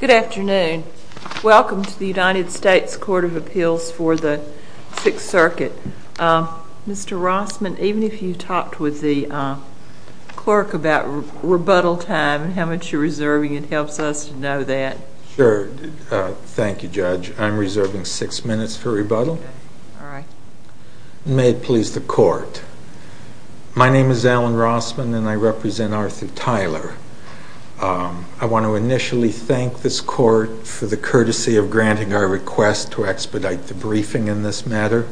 Good afternoon. Welcome to the United States Court of Appeals for the Sixth Circuit. Mr. Rossman, even if you talked with the clerk about rebuttal time and how much you're reserving, it helps us to know that. Sure. Thank you, Judge. I'm reserving six minutes for rebuttal. Alright. May it please the court. My name is Alan Rossman and I represent Arthur Tyler. I want to initially thank this court for the courtesy of granting our request to expedite the briefing in this matter.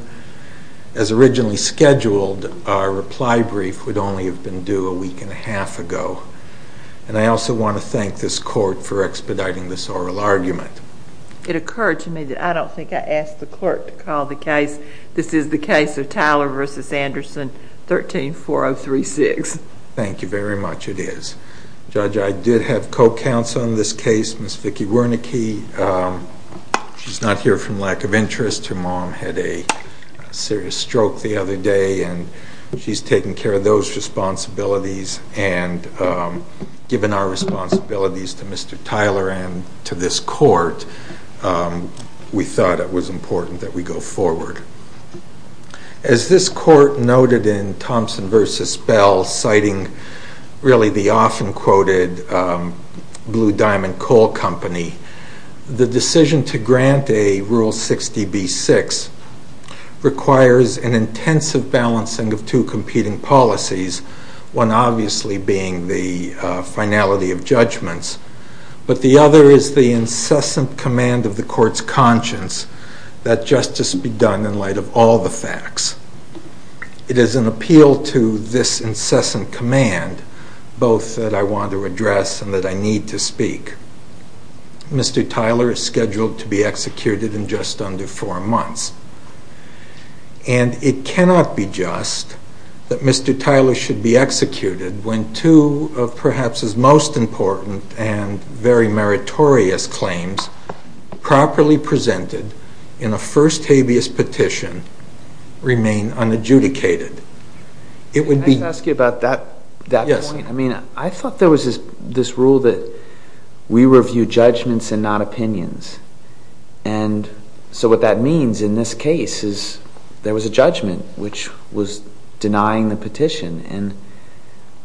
As originally scheduled, our reply brief would only have been due a week and a half ago. And I also want to thank this court for expediting this oral argument. It occurred to me that I don't think I asked the clerk to call the case. This is the case of Tyler v. Anderson, 13-4036. Thank you very much. It is. Judge, I did have co-counsel in this case, Ms. Vicki Wernicke. She's not here from lack of interest. Her mom had a serious stroke the other day. She's taken care of those responsibilities and given our responsibilities to Mr. Tyler and to this court, we thought it was important that we go forward. As this court noted in Thompson v. Bell, citing really the often quoted Blue Diamond Coal Company, the decision to grant a Rule 60b-6 requires an intensive balancing of two competing policies, one obviously being the finality of judgments, but the other is the incessant command of the court's conscience that justice be done in light of all the facts. It is an appeal to this incessant command, both that I want to address and that I need to speak. Mr. Tyler is scheduled to be executed in just under four months, and it cannot be just that Mr. Tyler should be executed when two of perhaps his most important and very meritorious claims properly presented in a first habeas petition remain unadjudicated. Can I just ask you about that point? Yes. I mean, I thought there was this rule that we review judgments and not opinions, and so what that means in this case is there was a judgment which was denying the petition, and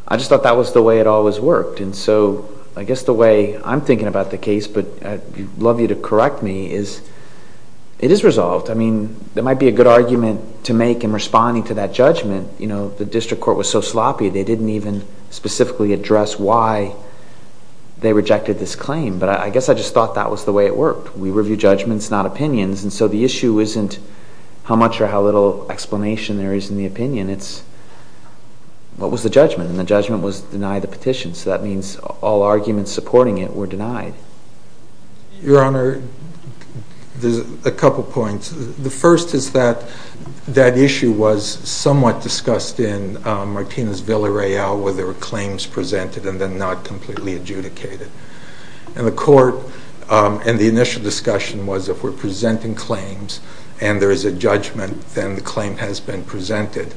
I just thought that was the way it always worked. And so I guess the way I'm thinking about the case, but I'd love you to correct me, is it is resolved. I mean, there might be a good argument to make in responding to that judgment. You know, the district court was so sloppy they didn't even specifically address why they rejected this claim, but I guess I just thought that was the way it worked. We review judgments, not opinions, and so the issue isn't how much or how little explanation there is in the opinion. It's what was the judgment, and the judgment was deny the petition, so that means all arguments supporting it were denied. Your Honor, there's a couple points. The first is that that issue was somewhat discussed in Martinez Villa Real where there were claims presented and then not completely adjudicated. And the court, and the initial discussion was if we're presenting claims and there is a judgment, then the claim has been presented,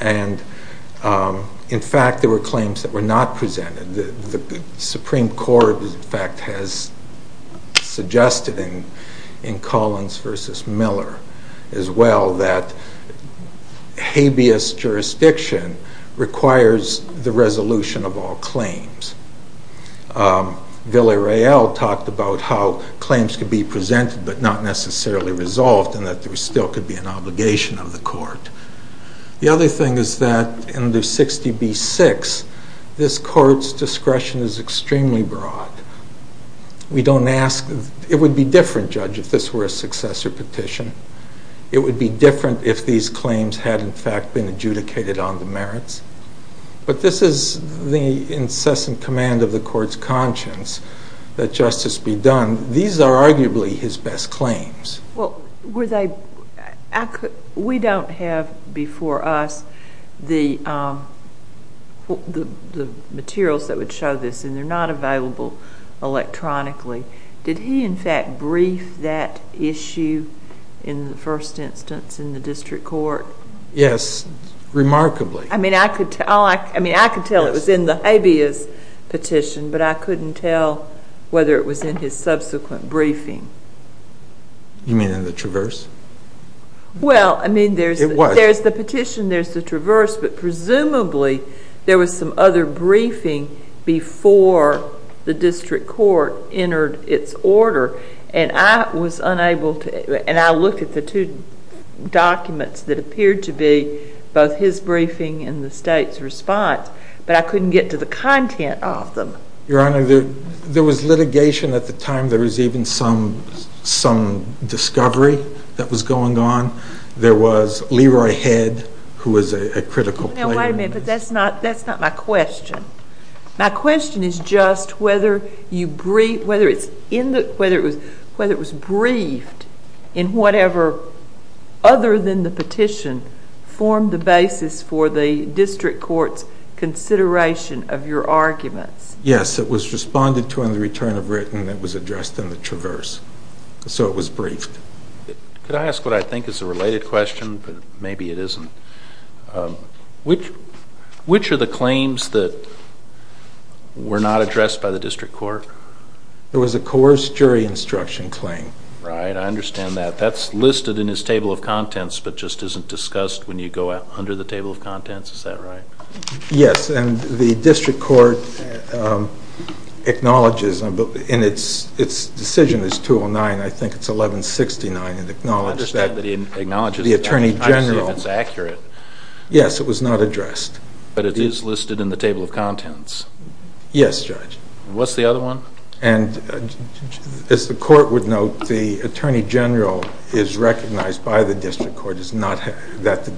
and in fact there were claims that were not presented. The Supreme Court, in fact, has suggested in Collins v. Miller as well that habeas jurisdiction requires the resolution of all claims. Villa Real talked about how claims could be presented but not necessarily resolved and that there still could be an obligation of the court. The other thing is that in the 60B-6, this court's discretion is extremely broad. We don't ask, it would be different, Judge, if this were a successor petition. It would be different if these claims had, in fact, been adjudicated on the merits. But this is the incessant command of the court's conscience that justice be done. These are arguably his best claims. We don't have before us the materials that would show this, and they're not available electronically. Did he, in fact, brief that issue in the first instance in the district court? Yes, remarkably. I mean, I could tell it was in the habeas petition, but I couldn't tell whether it was in his subsequent briefing. You mean in the Traverse? Well, I mean, there's the petition, there's the Traverse, but presumably there was some other briefing before the district court entered its order, and I was unable to, and I looked at the two documents that appeared to be both his briefing and the state's response, but I couldn't get to the content of them. Your Honor, there was litigation at the time. There was even some discovery that was going on. There was Leroy Head, who was a critical player. Now, wait a minute, but that's not my question. My question is just whether it was briefed in whatever, other than the petition, formed the basis for the district court's consideration of your arguments. Yes, it was responded to in the return of written that was addressed in the Traverse, so it was briefed. Could I ask what I think is a related question, but maybe it isn't? Which are the claims that were not addressed by the district court? There was a coerced jury instruction claim. Right, I understand that. That's listed in his table of contents, but just isn't discussed when you go out under the table of contents? Is that right? Yes, and the district court acknowledges, and its decision is 209, I think it's 1169, it acknowledged that. The attorney general. I don't see if it's accurate. Yes, it was not addressed. But it is listed in the table of contents. Yes, Judge. What's the other one? As the court would note, the attorney general is recognized by the district court that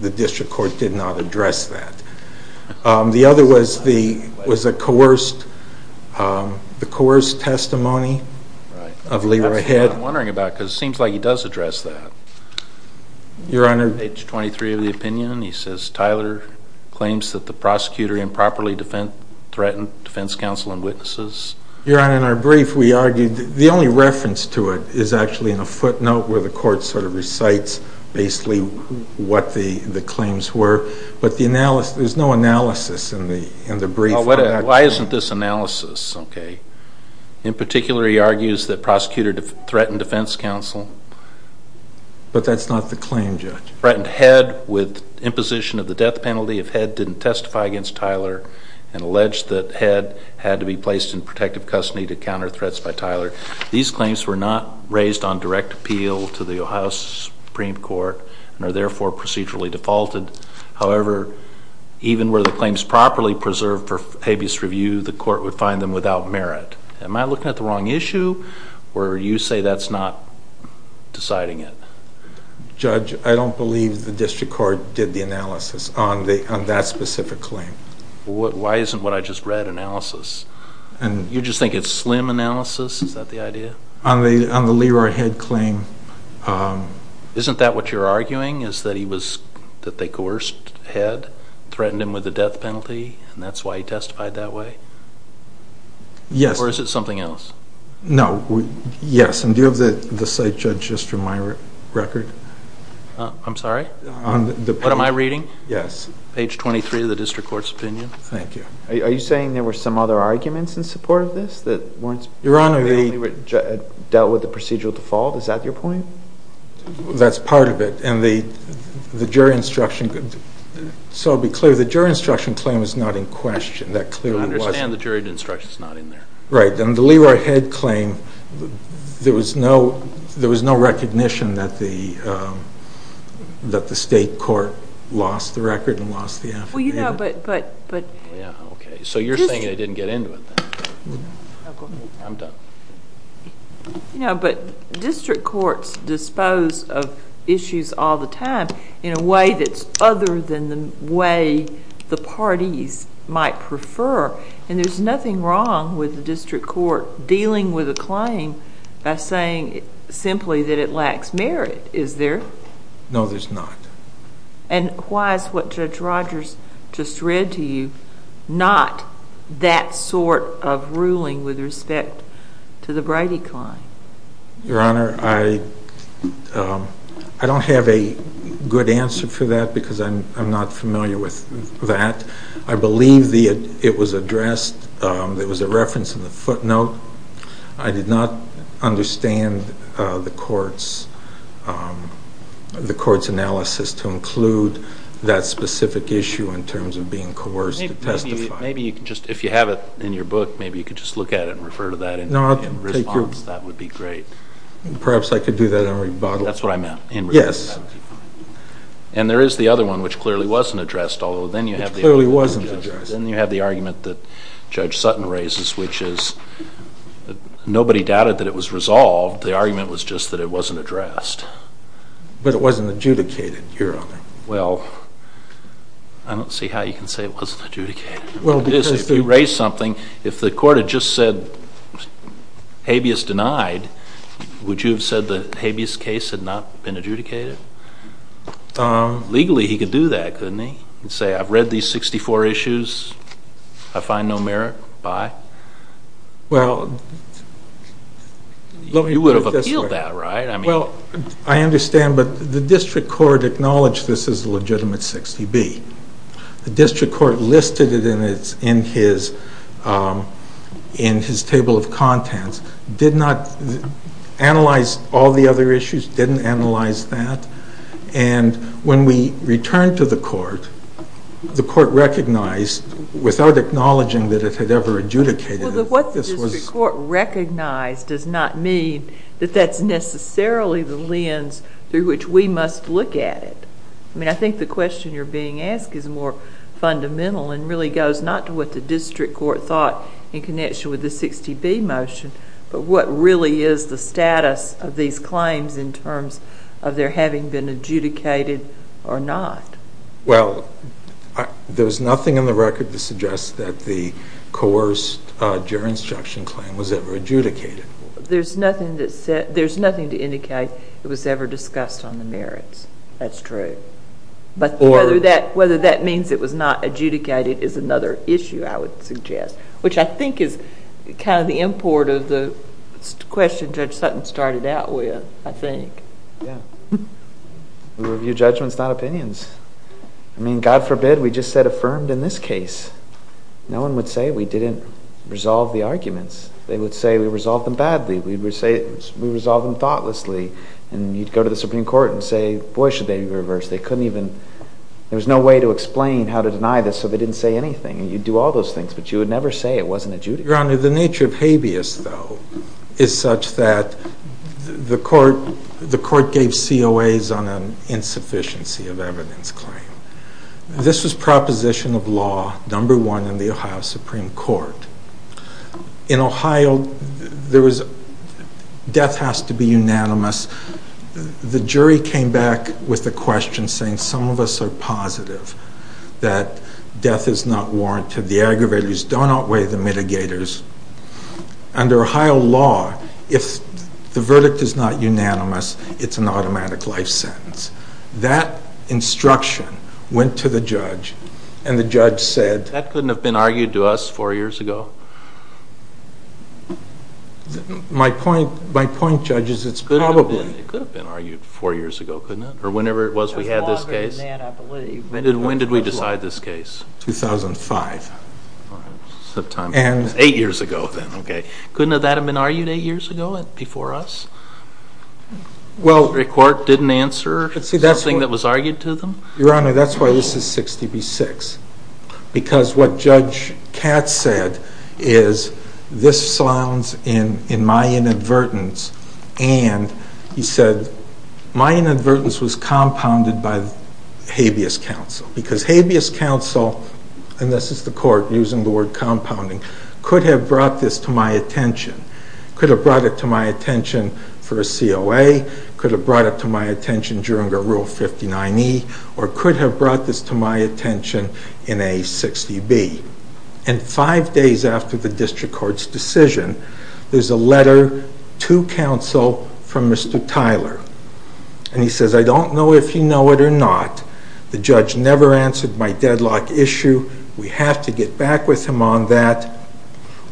the district court did not address that. The other was the coerced testimony of Leroy Head. I'm wondering about it because it seems like he does address that. Your Honor. Page 23 of the opinion, he says, Tyler claims that the prosecutor improperly threatened defense counsel and witnesses. Your Honor, in our brief we argued, the only reference to it is actually in a footnote where the court sort of recites basically what the claims were, but there's no analysis in the brief. Why isn't this analysis? In particular, he argues that prosecutor threatened defense counsel. But that's not the claim, Judge. Threatened Head with imposition of the death penalty if Head didn't testify against Tyler and alleged that Head had to be placed in protective custody to counter threats by Tyler. These claims were not raised on direct appeal to the Ohio Supreme Court and are therefore procedurally defaulted. However, even were the claims properly preserved for habeas review, the court would find them without merit. Am I looking at the wrong issue? Or you say that's not deciding it? Judge, I don't believe the district court did the analysis on that specific claim. Why isn't what I just read analysis? You just think it's slim analysis? Is that the idea? On the Leroy Head claim. Isn't that what you're arguing is that they coerced Head, threatened him with the death penalty, and that's why he testified that way? Yes. Or is it something else? No. Yes. And do you have the site, Judge, just from my record? I'm sorry? What am I reading? Yes. Page 23 of the district court's opinion. Thank you. Are you saying there were some other arguments in support of this that weren't? Your Honor, they dealt with the procedural default? Is that your point? That's part of it. And the jury instruction, so to be clear, the jury instruction claim is not in question. I understand the jury instruction is not in there. Right. And the Leroy Head claim, there was no recognition that the state court lost the record and lost the affidavit. Okay. So you're saying they didn't get into it, then? I'm done. But district courts dispose of issues all the time in a way that's other than the way the parties might prefer, and there's nothing wrong with the district court dealing with a claim by saying simply that it lacks merit, is there? No, there's not. And why is what Judge Rogers just read to you not that sort of ruling with respect to the Brady claim? Your Honor, I don't have a good answer for that because I'm not familiar with that. I believe it was addressed, there was a reference in the footnote. I did not understand the court's analysis to include that specific issue in terms of being coerced to testify. Maybe you could just, if you have it in your book, maybe you could just look at it and refer to that in response. That would be great. Perhaps I could do that in rebuttal. That's what I meant. Yes. And there is the other one which clearly wasn't addressed, although then you have the argument that Judge Sutton raises, which is nobody doubted that it was resolved, the argument was just that it wasn't addressed. But it wasn't adjudicated, Your Honor. Well, I don't see how you can say it wasn't adjudicated. If you raise something, if the court had just said habeas denied, would you have said the habeas case had not been adjudicated? Legally he could do that, couldn't he? He could say, I've read these 64 issues, I find no merit, bye. Well, let me put it this way. You would have appealed that, right? Well, I understand, but the district court acknowledged this as a legitimate 60B. The district court listed it in his table of contents, did not analyze all the other issues, didn't analyze that. And when we returned to the court, the court recognized without acknowledging that it had ever adjudicated it. What the district court recognized does not mean that that's necessarily the lens through which we must look at it. I mean, I think the question you're being asked is more fundamental and really goes not to what the district court thought in connection with the 60B motion, but what really is the status of these claims in terms of their having been adjudicated or not. Well, there's nothing in the record that suggests that the coerced jurisdiction claim was ever adjudicated. There's nothing to indicate it was ever discussed on the merits. That's true. But whether that means it was not adjudicated is another issue, I would suggest, which I think is kind of the import of the question Judge Sutton started out with, I think. Yeah. We review judgments, not opinions. I mean, God forbid we just said affirmed in this case. No one would say we didn't resolve the arguments. They would say we resolved them badly. We would say we resolved them thoughtlessly. And you'd go to the Supreme Court and say, boy, should they reverse. They couldn't even. There was no way to explain how to deny this, so they didn't say anything. And you'd do all those things, but you would never say it wasn't adjudicated. Your Honor, the nature of habeas, though, is such that the court gave COAs on an insufficiency of evidence claim. This was proposition of law number one in the Ohio Supreme Court. In Ohio, death has to be unanimous. The jury came back with a question saying some of us are positive that death is not warranted, the aggravators do not weigh the mitigators. Under Ohio law, if the verdict is not unanimous, it's an automatic life sentence. That instruction went to the judge, and the judge said— That couldn't have been argued to us four years ago? My point, Judge, is it's probably— It could have been argued four years ago, couldn't it? Or whenever it was we had this case? It was longer than that, I believe. When did we decide this case? 2005. Eight years ago then, okay. Couldn't that have been argued eight years ago before us? The Supreme Court didn't answer something that was argued to them? Your Honor, that's why this is 60 v. 6. Because what Judge Katz said is this slounds in my inadvertence, and he said my inadvertence was compounded by habeas counsel. Because habeas counsel, and this is the court using the word compounding, could have brought this to my attention. Could have brought it to my attention for a COA, could have brought it to my attention during a Rule 59E, or could have brought this to my attention in a 60B. And five days after the district court's decision, there's a letter to counsel from Mr. Tyler. And he says, I don't know if you know it or not. The judge never answered my deadlock issue. We have to get back with him on that.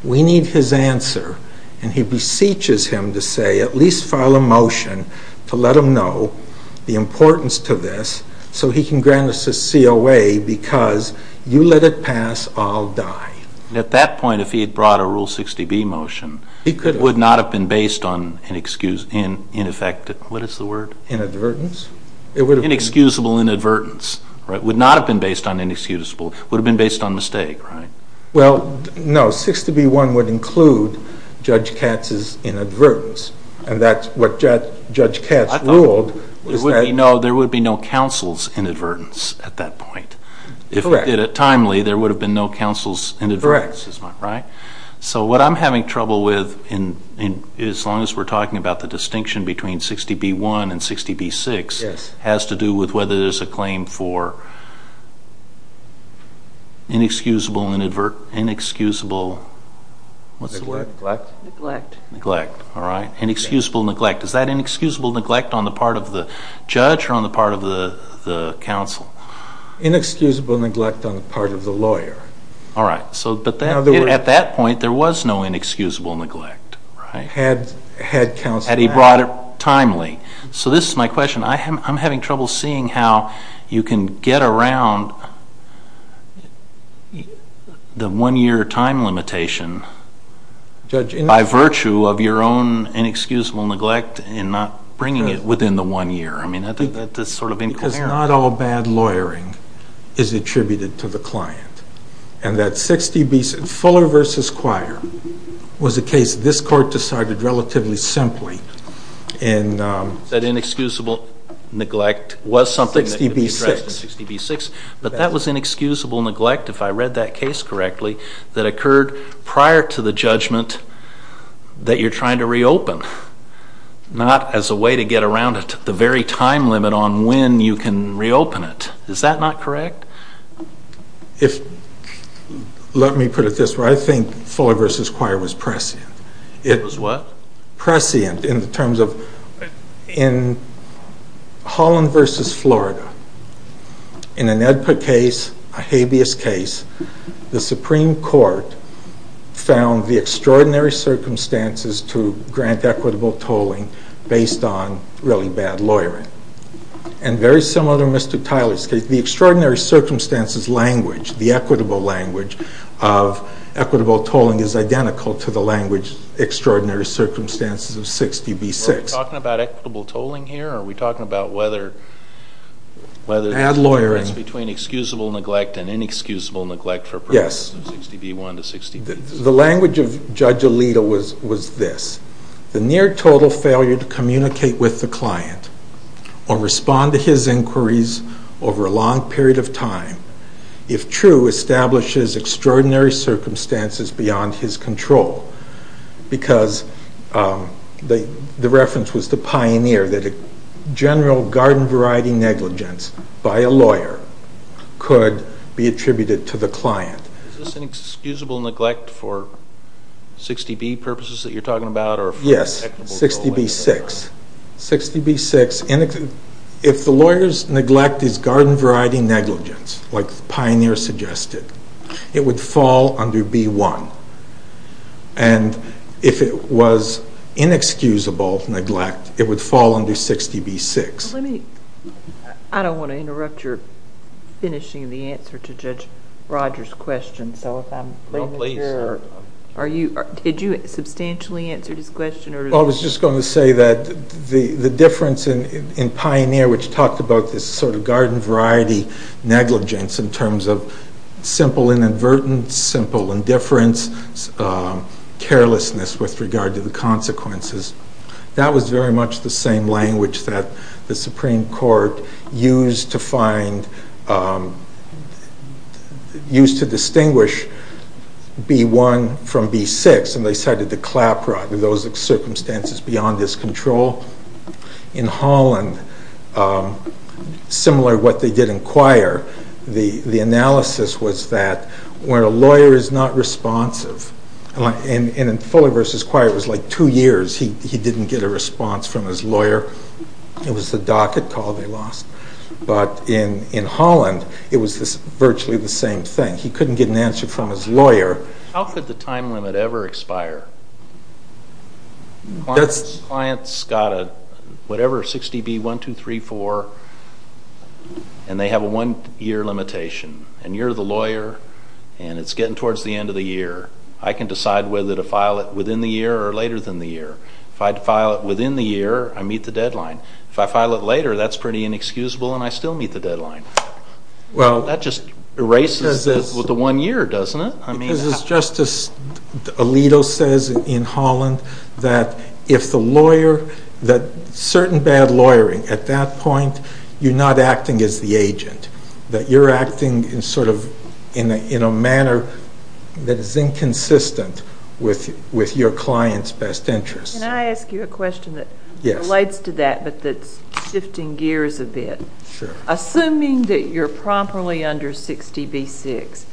We need his answer. And he beseeches him to say at least file a motion to let him know the importance to this so he can grant us a COA because you let it pass, I'll die. At that point, if he had brought a Rule 60B motion, it would not have been based on inexcusable inadvertence. It would not have been based on inexcusable. It would have been based on mistake, right? Well, no, 60B.1 would include Judge Katz's inadvertence. And that's what Judge Katz ruled. There would be no counsel's inadvertence at that point. Correct. If he did it timely, there would have been no counsel's inadvertence, right? Correct. So what I'm having trouble with, as long as we're talking about the distinction between 60B.1 and 60B.6, has to do with whether there's a claim for inexcusable neglect. Is that inexcusable neglect on the part of the judge or on the part of the counsel? Inexcusable neglect on the part of the lawyer. All right. At that point, there was no inexcusable neglect, right? Had he brought it timely. So this is my question. I'm having trouble seeing how you can get around the one-year time limitation by virtue of your own inexcusable neglect and not bringing it within the one year. I mean, that's sort of incomparable. Because not all bad lawyering is attributed to the client. Fuller v. Quire was a case this court decided relatively simply. That inexcusable neglect was something that could be addressed in 60B.6, but that was inexcusable neglect, if I read that case correctly, that occurred prior to the judgment that you're trying to reopen, not as a way to get around the very time limit on when you can reopen it. Is that not correct? Let me put it this way. I think Fuller v. Quire was prescient. It was what? Prescient in the terms of Holland v. Florida. In an EDPA case, a habeas case, the Supreme Court found the extraordinary circumstances to grant equitable tolling based on really bad lawyering. And very similar to Mr. Tyler's case. The extraordinary circumstances language, the equitable language of equitable tolling, is identical to the language extraordinary circumstances of 60B.6. Are we talking about equitable tolling here? Are we talking about whether there's a difference between excusable neglect and inexcusable neglect for persons in 60B.1 to 60B.6? The language of Judge Alito was this. The near total failure to communicate with the client or respond to his inquiries over a long period of time, if true, establishes extraordinary circumstances beyond his control. Because the reference was to Pioneer, that a general garden variety negligence by a lawyer could be attributed to the client. Is this inexcusable neglect for 60B purposes that you're talking about? Yes, 60B.6. 60B.6, if the lawyer's neglect is garden variety negligence, like Pioneer suggested, it would fall under B.1. And if it was inexcusable neglect, it would fall under 60B.6. I don't want to interrupt your finishing the answer to Judge Rogers' question. No, please. Did you substantially answer his question? I was just going to say that the difference in Pioneer, which talked about this sort of garden variety negligence in terms of simple inadvertence, simple indifference, carelessness with regard to the consequences, that was very much the same language that the Supreme Court used to find, used to distinguish B.1 from B.6, and they cited the clap rod, those circumstances beyond his control. In Holland, similar to what they did in Quire, the analysis was that when a lawyer is not responsive, and in Foley v. Quire it was like two years he didn't get a response from his lawyer. It was the docket call they lost. But in Holland, it was virtually the same thing. He couldn't get an answer from his lawyer. How could the time limit ever expire? Clients got whatever 60B.1, 2, 3, 4, and they have a one-year limitation. And you're the lawyer, and it's getting towards the end of the year. I can decide whether to file it within the year or later than the year. If I had to file it within the year, I meet the deadline. If I file it later, that's pretty inexcusable, and I still meet the deadline. That just erases the one year, doesn't it? Because as Justice Alito says in Holland, that if the lawyer, that certain bad lawyering at that point, you're not acting as the agent. That you're acting in a manner that is inconsistent with your client's best interest. Can I ask you a question that relates to that but that's shifting gears a bit? Sure. Assuming that you're properly under 60B.6,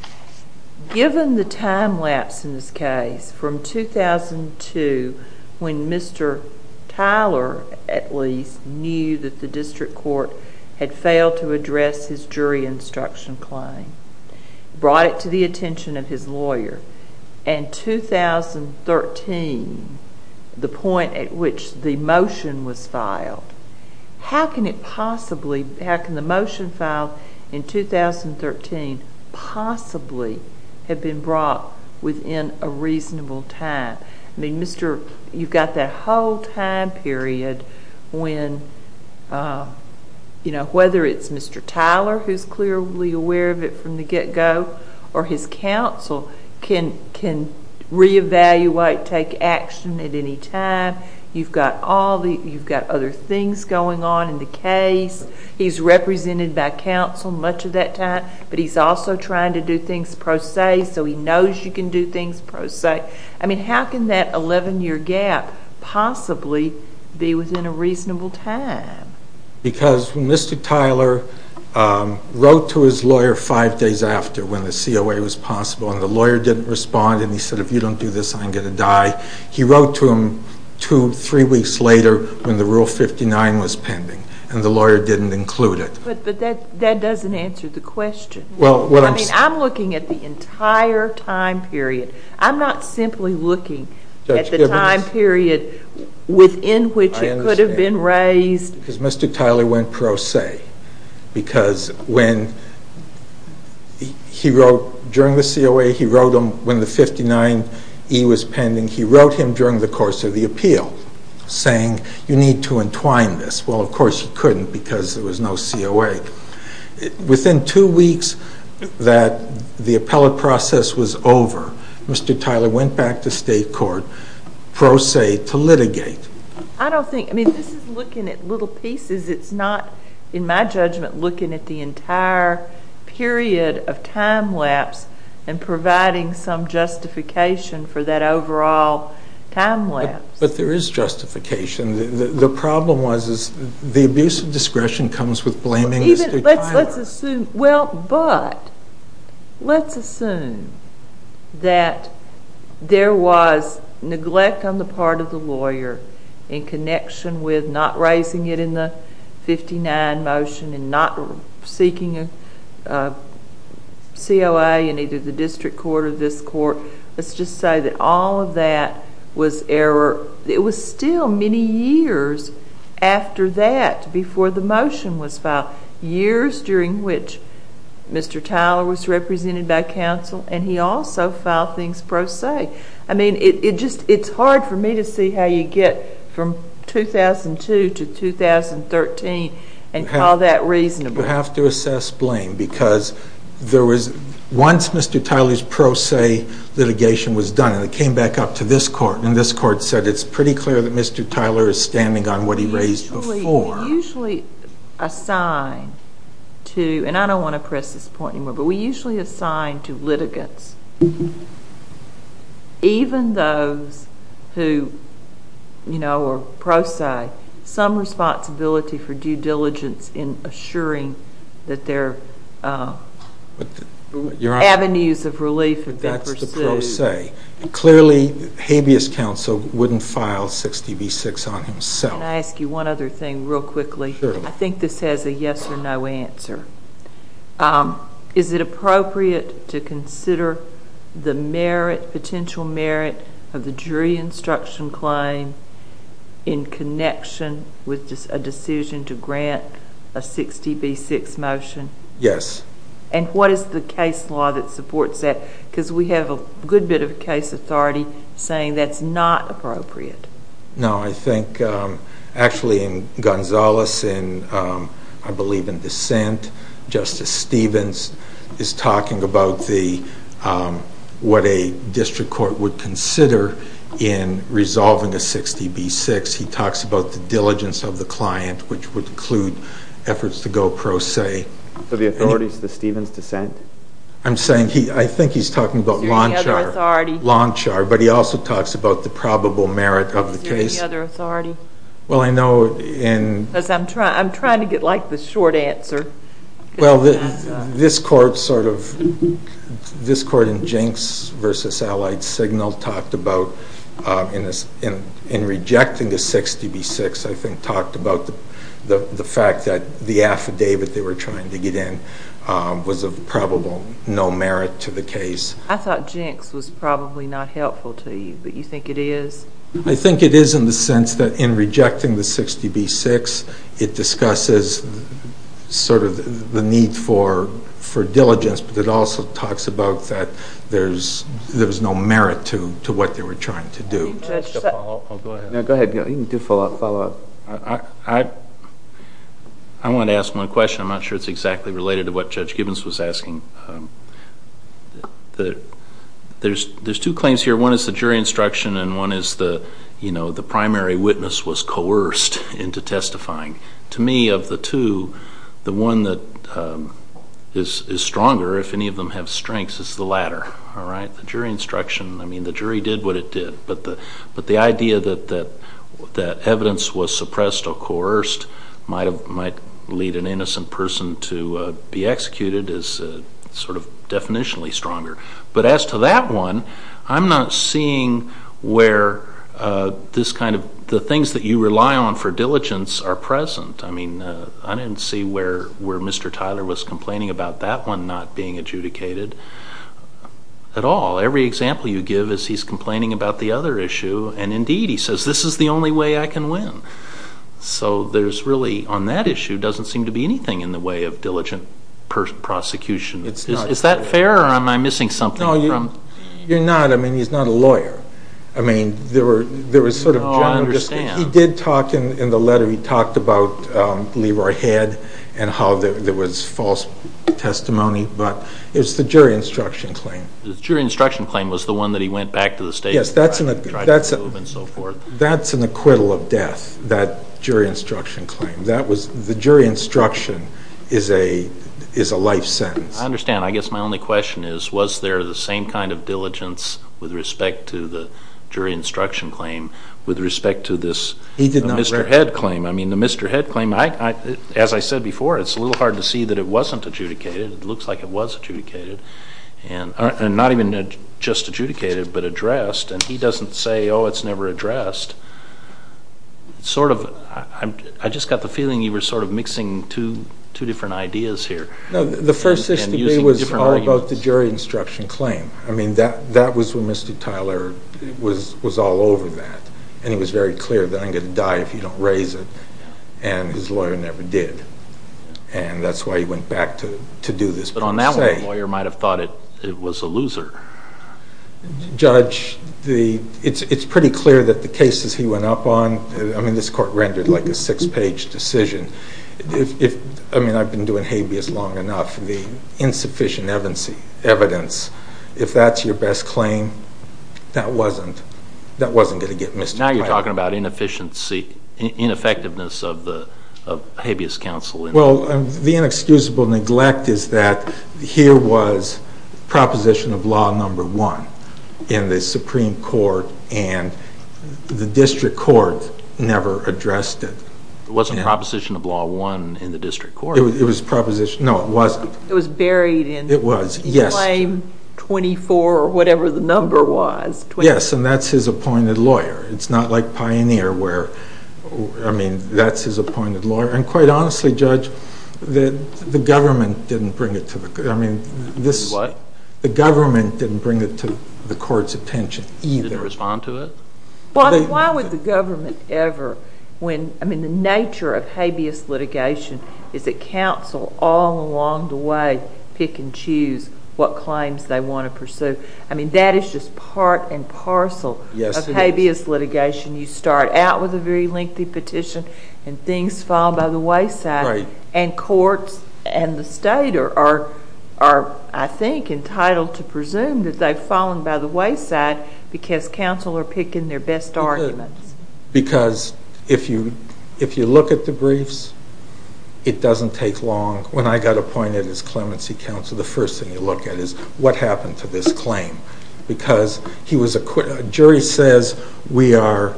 given the time lapse in this case from 2002 when Mr. Tyler, at least, knew that the district court had failed to address his jury instruction claim, brought it to the attention of his lawyer, and 2013, the point at which the motion was filed, how can the motion filed in 2013 possibly have been brought within a reasonable time? You've got that whole time period when, whether it's Mr. Tyler, who's clearly aware of it from the get-go, or his counsel can reevaluate, take action at any time. You've got other things going on in the case. He's represented by counsel much of that time, but he's also trying to do things pro se, so he knows you can do things pro se. I mean, how can that 11-year gap possibly be within a reasonable time? Because when Mr. Tyler wrote to his lawyer five days after when the COA was possible and the lawyer didn't respond and he said, if you don't do this, I'm going to die, he wrote to him two, three weeks later when the Rule 59 was pending, and the lawyer didn't include it. But that doesn't answer the question. I mean, I'm looking at the entire time period. I'm not simply looking at the time period within which it could have been raised. I understand. Because Mr. Tyler went pro se. Because when he wrote during the COA, he wrote them when the 59E was pending. He wrote him during the course of the appeal saying, you need to entwine this. Well, of course you couldn't because there was no COA. Within two weeks that the appellate process was over, Mr. Tyler went back to state court pro se to litigate. I don't think, I mean, this is looking at little pieces. It's not, in my judgment, looking at the entire period of time lapse and providing some justification for that overall time lapse. But there is justification. The problem was the abuse of discretion comes with blaming Mr. Tyler. Well, but let's assume that there was neglect on the part of the lawyer in connection with not raising it in the 59 motion and not seeking a COA in either the district court or this court. Let's just say that all of that was error. It was still many years after that before the motion was filed, years during which Mr. Tyler was represented by counsel and he also filed things pro se. I mean, it's hard for me to see how you get from 2002 to 2013 and call that reasonable. You have to assess blame because once Mr. Tyler's pro se litigation was done and it came back up to this court and this court said it's pretty clear that Mr. Tyler is standing on what he raised before. We usually assign to, and I don't want to press this point anymore, but we usually assign to litigants, even those who are pro se, some responsibility for due diligence in assuring that their avenues of relief have been pursued. That's the pro se. Clearly, habeas counsel wouldn't file 60B6 on himself. Can I ask you one other thing real quickly? Sure. I think this has a yes or no answer. Is it appropriate to consider the merit, potential merit, of the jury instruction claim in connection with a decision to grant a 60B6 motion? Yes. And what is the case law that supports that? Because we have a good bit of case authority saying that's not appropriate. No, I think actually in Gonzales, I believe in dissent, Justice Stevens is talking about what a district court would consider in resolving a 60B6. He talks about the diligence of the client, which would include efforts to go pro se. So the authority is the Stevens dissent? I think he's talking about Lonchar, but he also talks about the probable merit of the case. Is there any other authority? Well, I know in- Because I'm trying to get the short answer. Well, this court in Jenks v. Allied Signal talked about, in rejecting the 60B6, I think, talked about the fact that the affidavit they were trying to get in was of probable no merit to the case. I thought Jenks was probably not helpful to you, but you think it is? I think it is in the sense that in rejecting the 60B6, it discusses sort of the need for diligence, but it also talks about that there's no merit to what they were trying to do. Go ahead. You can do follow-up. I want to ask one question. I'm not sure it's exactly related to what Judge Gibbons was asking. There's two claims here. One is the jury instruction, and one is the primary witness was coerced into testifying. To me, of the two, the one that is stronger, if any of them have strengths, is the latter. All right, the jury instruction. I mean, the jury did what it did, but the idea that evidence was suppressed or coerced might lead an innocent person to be executed is sort of definitionally stronger. But as to that one, I'm not seeing where this kind of the things that you rely on for diligence are present. I mean, I didn't see where Mr. Tyler was complaining about that one not being adjudicated at all. Every example you give is he's complaining about the other issue, and indeed he says, this is the only way I can win. So there's really, on that issue, doesn't seem to be anything in the way of diligent prosecution. Is that fair, or am I missing something? No, you're not. I mean, he's not a lawyer. No, I understand. He did talk in the letter, he talked about Leroy Head and how there was false testimony, but it's the jury instruction claim. The jury instruction claim was the one that he went back to the state trial and tried to prove and so forth. That's an acquittal of death, that jury instruction claim. The jury instruction is a life sentence. I understand. I guess my only question is, was there the same kind of diligence with respect to the jury instruction claim with respect to this Mr. Head claim? I mean, the Mr. Head claim, as I said before, it's a little hard to see that it wasn't adjudicated. It looks like it was adjudicated, and not even just adjudicated, but addressed, and he doesn't say, oh, it's never addressed. I just got the feeling you were sort of mixing two different ideas here. No, the first issue to me was all about the jury instruction claim. I mean, that was when Mr. Tyler was all over that, and he was very clear that I'm going to die if you don't raise it, and his lawyer never did. And that's why he went back to do this. But on that one, the lawyer might have thought it was a loser. Judge, it's pretty clear that the cases he went up on, I mean, this court rendered like a six-page decision. I mean, I've been doing habeas long enough. The insufficient evidence, if that's your best claim, that wasn't going to get Mr. Tyler. Now you're talking about ineffectiveness of the habeas counsel. Well, the inexcusable neglect is that here was proposition of law number one in the Supreme Court, and the district court never addressed it. It wasn't proposition of law one in the district court. It was proposition. No, it wasn't. It was buried in claim 24 or whatever the number was. Yes, and that's his appointed lawyer. It's not like Pioneer where, I mean, that's his appointed lawyer. And quite honestly, Judge, the government didn't bring it to the court. What? The government didn't bring it to the court's attention either. They didn't respond to it? Why would the government ever when, I mean, the nature of habeas litigation is that counsel all along the way pick and choose what claims they want to pursue. I mean, that is just part and parcel of habeas litigation. You start out with a very lengthy petition, and things fall by the wayside, and courts and the state are, I think, entitled to presume that they've fallen by the wayside because counsel are picking their best arguments. Because if you look at the briefs, it doesn't take long. When I got appointed as clemency counsel, the first thing you look at is what happened to this claim? Because he was acquitted. A jury says we are,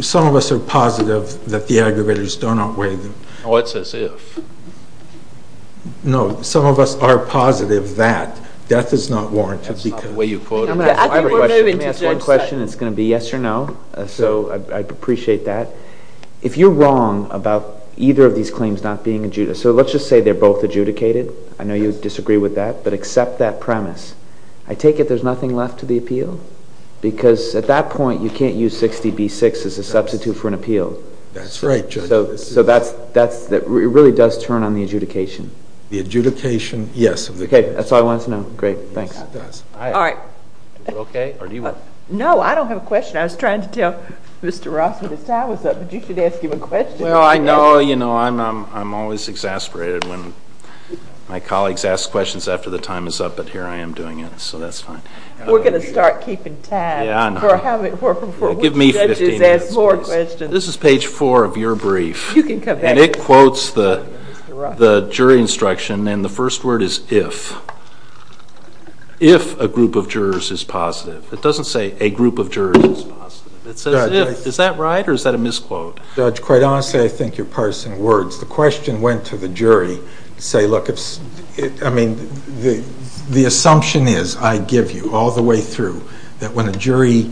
some of us are positive that the aggravators don't outweigh them. Oh, it's as if. No, some of us are positive that death is not warranted. Let me ask one question, and it's going to be yes or no. So I'd appreciate that. If you're wrong about either of these claims not being adjudicated, so let's just say they're both adjudicated. I know you disagree with that, but accept that premise. I take it there's nothing left to the appeal? Because at that point, you can't use 60B-6 as a substitute for an appeal. That's right, Judge. So it really does turn on the adjudication. The adjudication, yes. Okay, that's all I wanted to know. Great, thanks. All right. Is it okay, or do you want to? No, I don't have a question. I was trying to tell Mr. Ross when his time was up, but you should ask him a question. Well, I know, you know, I'm always exasperated when my colleagues ask questions after the time is up, but here I am doing it, so that's fine. We're going to start keeping time. Yeah, I know. Give me 15 minutes, please. This is page 4 of your brief. You can come back. And it quotes the jury instruction, and the first word is if. If a group of jurors is positive. It doesn't say a group of jurors is positive. It says if. Is that right, or is that a misquote? Judge, quite honestly, I think you're parsing words. The question went to the jury to say, look, I mean, the assumption is I give you all the way through that when a jury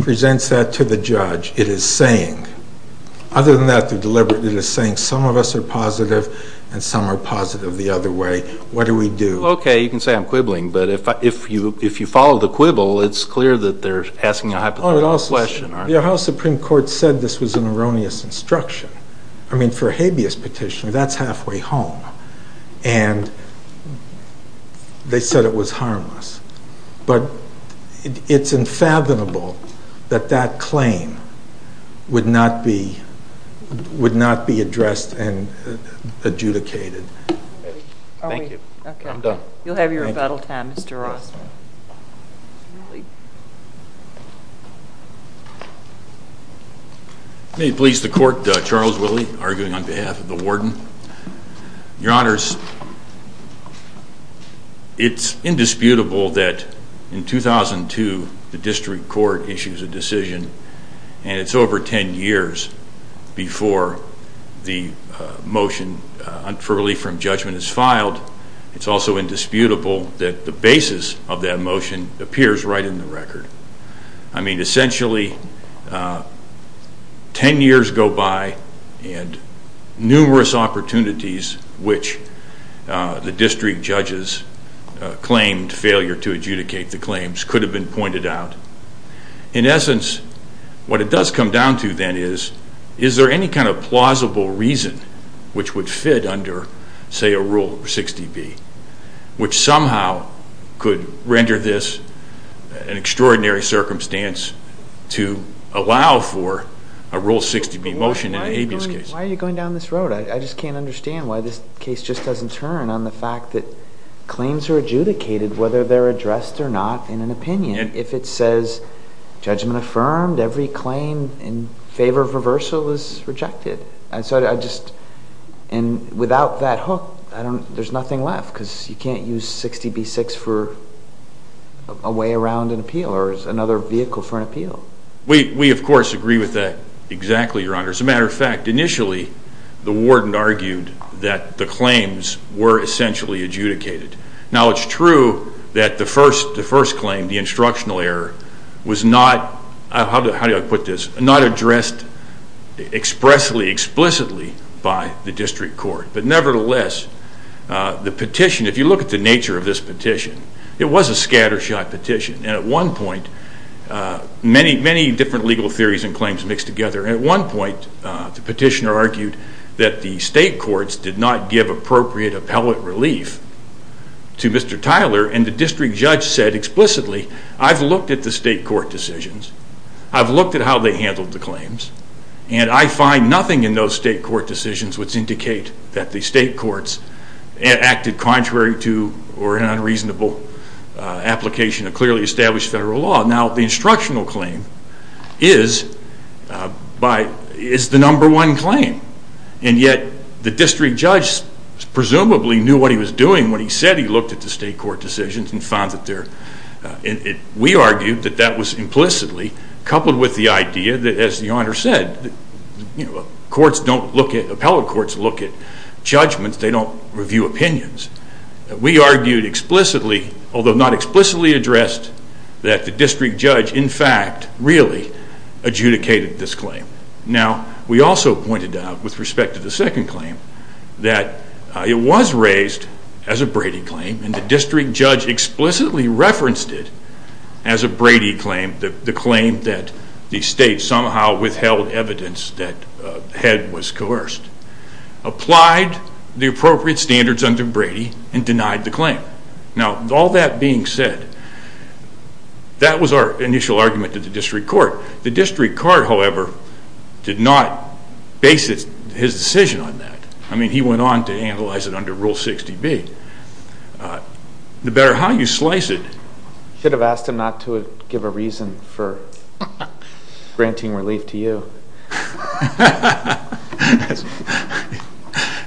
presents that to the judge, it is saying. Other than that, they're deliberately saying some of us are positive and some are positive the other way. What do we do? Okay, you can say I'm quibbling, but if you follow the quibble, it's clear that they're asking a hypothetical question. The Ohio Supreme Court said this was an erroneous instruction. I mean, for a habeas petition, that's halfway home, and they said it was harmless. But it's unfathomable that that claim would not be addressed and adjudicated. Thank you. I'm done. You'll have your rebuttal time, Mr. Ross. May it please the Court, Charles Willey, arguing on behalf of the warden. Your Honors, it's indisputable that in 2002 the district court issues a decision, and it's over 10 years before the motion for relief from judgment is filed. It's also indisputable that the basis of that motion appears right in the record. I mean, essentially, 10 years go by and numerous opportunities which the district judges claimed failure to adjudicate the claims could have been pointed out. In essence, what it does come down to then is, is there any kind of plausible reason which would fit under, say, a Rule 60B, which somehow could render this an extraordinary circumstance to allow for a Rule 60B motion in a habeas case? Why are you going down this road? I just can't understand why this case just doesn't turn on the fact that claims are adjudicated whether they're addressed or not in an opinion. If it says judgment affirmed, every claim in favor of reversal is rejected. And without that hook, there's nothing left because you can't use 60B-6 for a way around an appeal or another vehicle for an appeal. We, of course, agree with that exactly, Your Honors. As a matter of fact, initially the warden argued that the claims were essentially adjudicated. Now, it's true that the first claim, the instructional error, was not, how do I put this, not addressed expressly, explicitly by the district court. But nevertheless, the petition, if you look at the nature of this petition, it was a scattershot petition. And at one point, many, many different legal theories and claims mixed together. At one point, the petitioner argued that the state courts did not give appropriate appellate relief to Mr. Tyler. And the district judge said explicitly, I've looked at the state court decisions. I've looked at how they handled the claims. And I find nothing in those state court decisions which indicate that the state courts acted contrary to or in unreasonable application of clearly established federal law. Now, the instructional claim is the number one claim. And yet, the district judge presumably knew what he was doing when he said he looked at the state court decisions and found that they're... We argued that that was implicitly coupled with the idea that, as the Honor said, appellate courts look at judgments. They don't review opinions. We argued explicitly, although not explicitly addressed, that the district judge, in fact, really adjudicated this claim. Now, we also pointed out, with respect to the second claim, that it was raised as a Brady claim. And the district judge explicitly referenced it as a Brady claim, the claim that the state somehow withheld evidence that the head was coerced. Applied the appropriate standards under Brady and denied the claim. Now, all that being said, that was our initial argument to the district court. The district court, however, did not base his decision on that. I mean, he went on to analyze it under Rule 60B. The better how you slice it...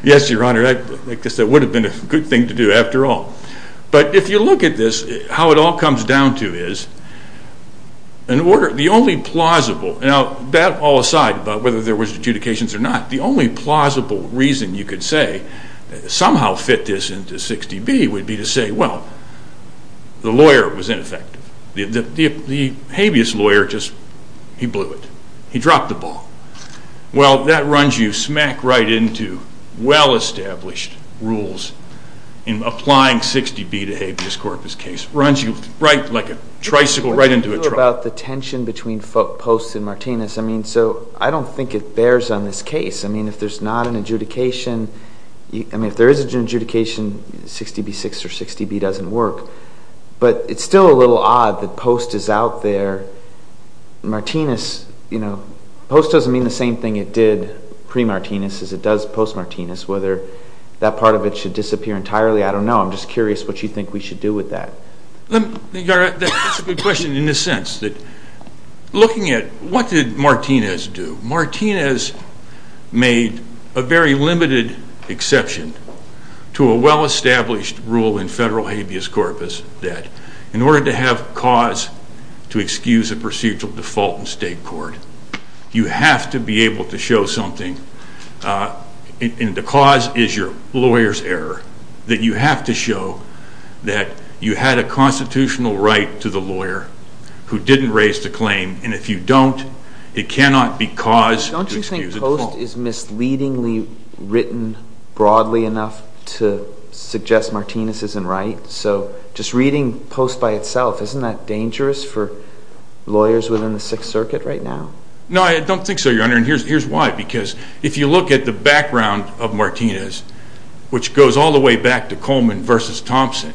Yes, Your Honor, I guess that would have been a good thing to do after all. But if you look at this, how it all comes down to is, the only plausible... Now, that all aside about whether there was adjudications or not, the only plausible reason you could say somehow fit this into 60B would be to say, well, the lawyer was ineffective. The habeas lawyer just, he blew it. He dropped the ball. Well, that runs you smack right into well-established rules in applying 60B to habeas corpus case. Runs you right, like a tricycle, right into a truck. About the tension between Post and Martinez, I mean, so I don't think it bears on this case. I mean, if there's not an adjudication, I mean, if there is an adjudication, 60B-6 or 60B doesn't work. But it's still a little odd that Post is out there. Martinez, you know, Post doesn't mean the same thing it did pre-Martinez as it does post-Martinez. Whether that part of it should disappear entirely, I don't know. I'm just curious what you think we should do with that. Your Honor, that's a good question in the sense that looking at what did Martinez do, Martinez made a very limited exception to a well-established rule in federal habeas corpus that in order to have cause to excuse a procedural default in state court, you have to be able to show something, and the cause is your lawyer's error, that you have to show that you had a constitutional right to the lawyer who didn't raise the claim, and if you don't, it cannot be cause to excuse a default. Don't you think Post is misleadingly written broadly enough to suggest Martinez isn't right? So just reading Post by itself, isn't that dangerous for lawyers within the Sixth Circuit right now? No, I don't think so, Your Honor, and here's why. Because if you look at the background of Martinez, which goes all the way back to Coleman v. Thompson,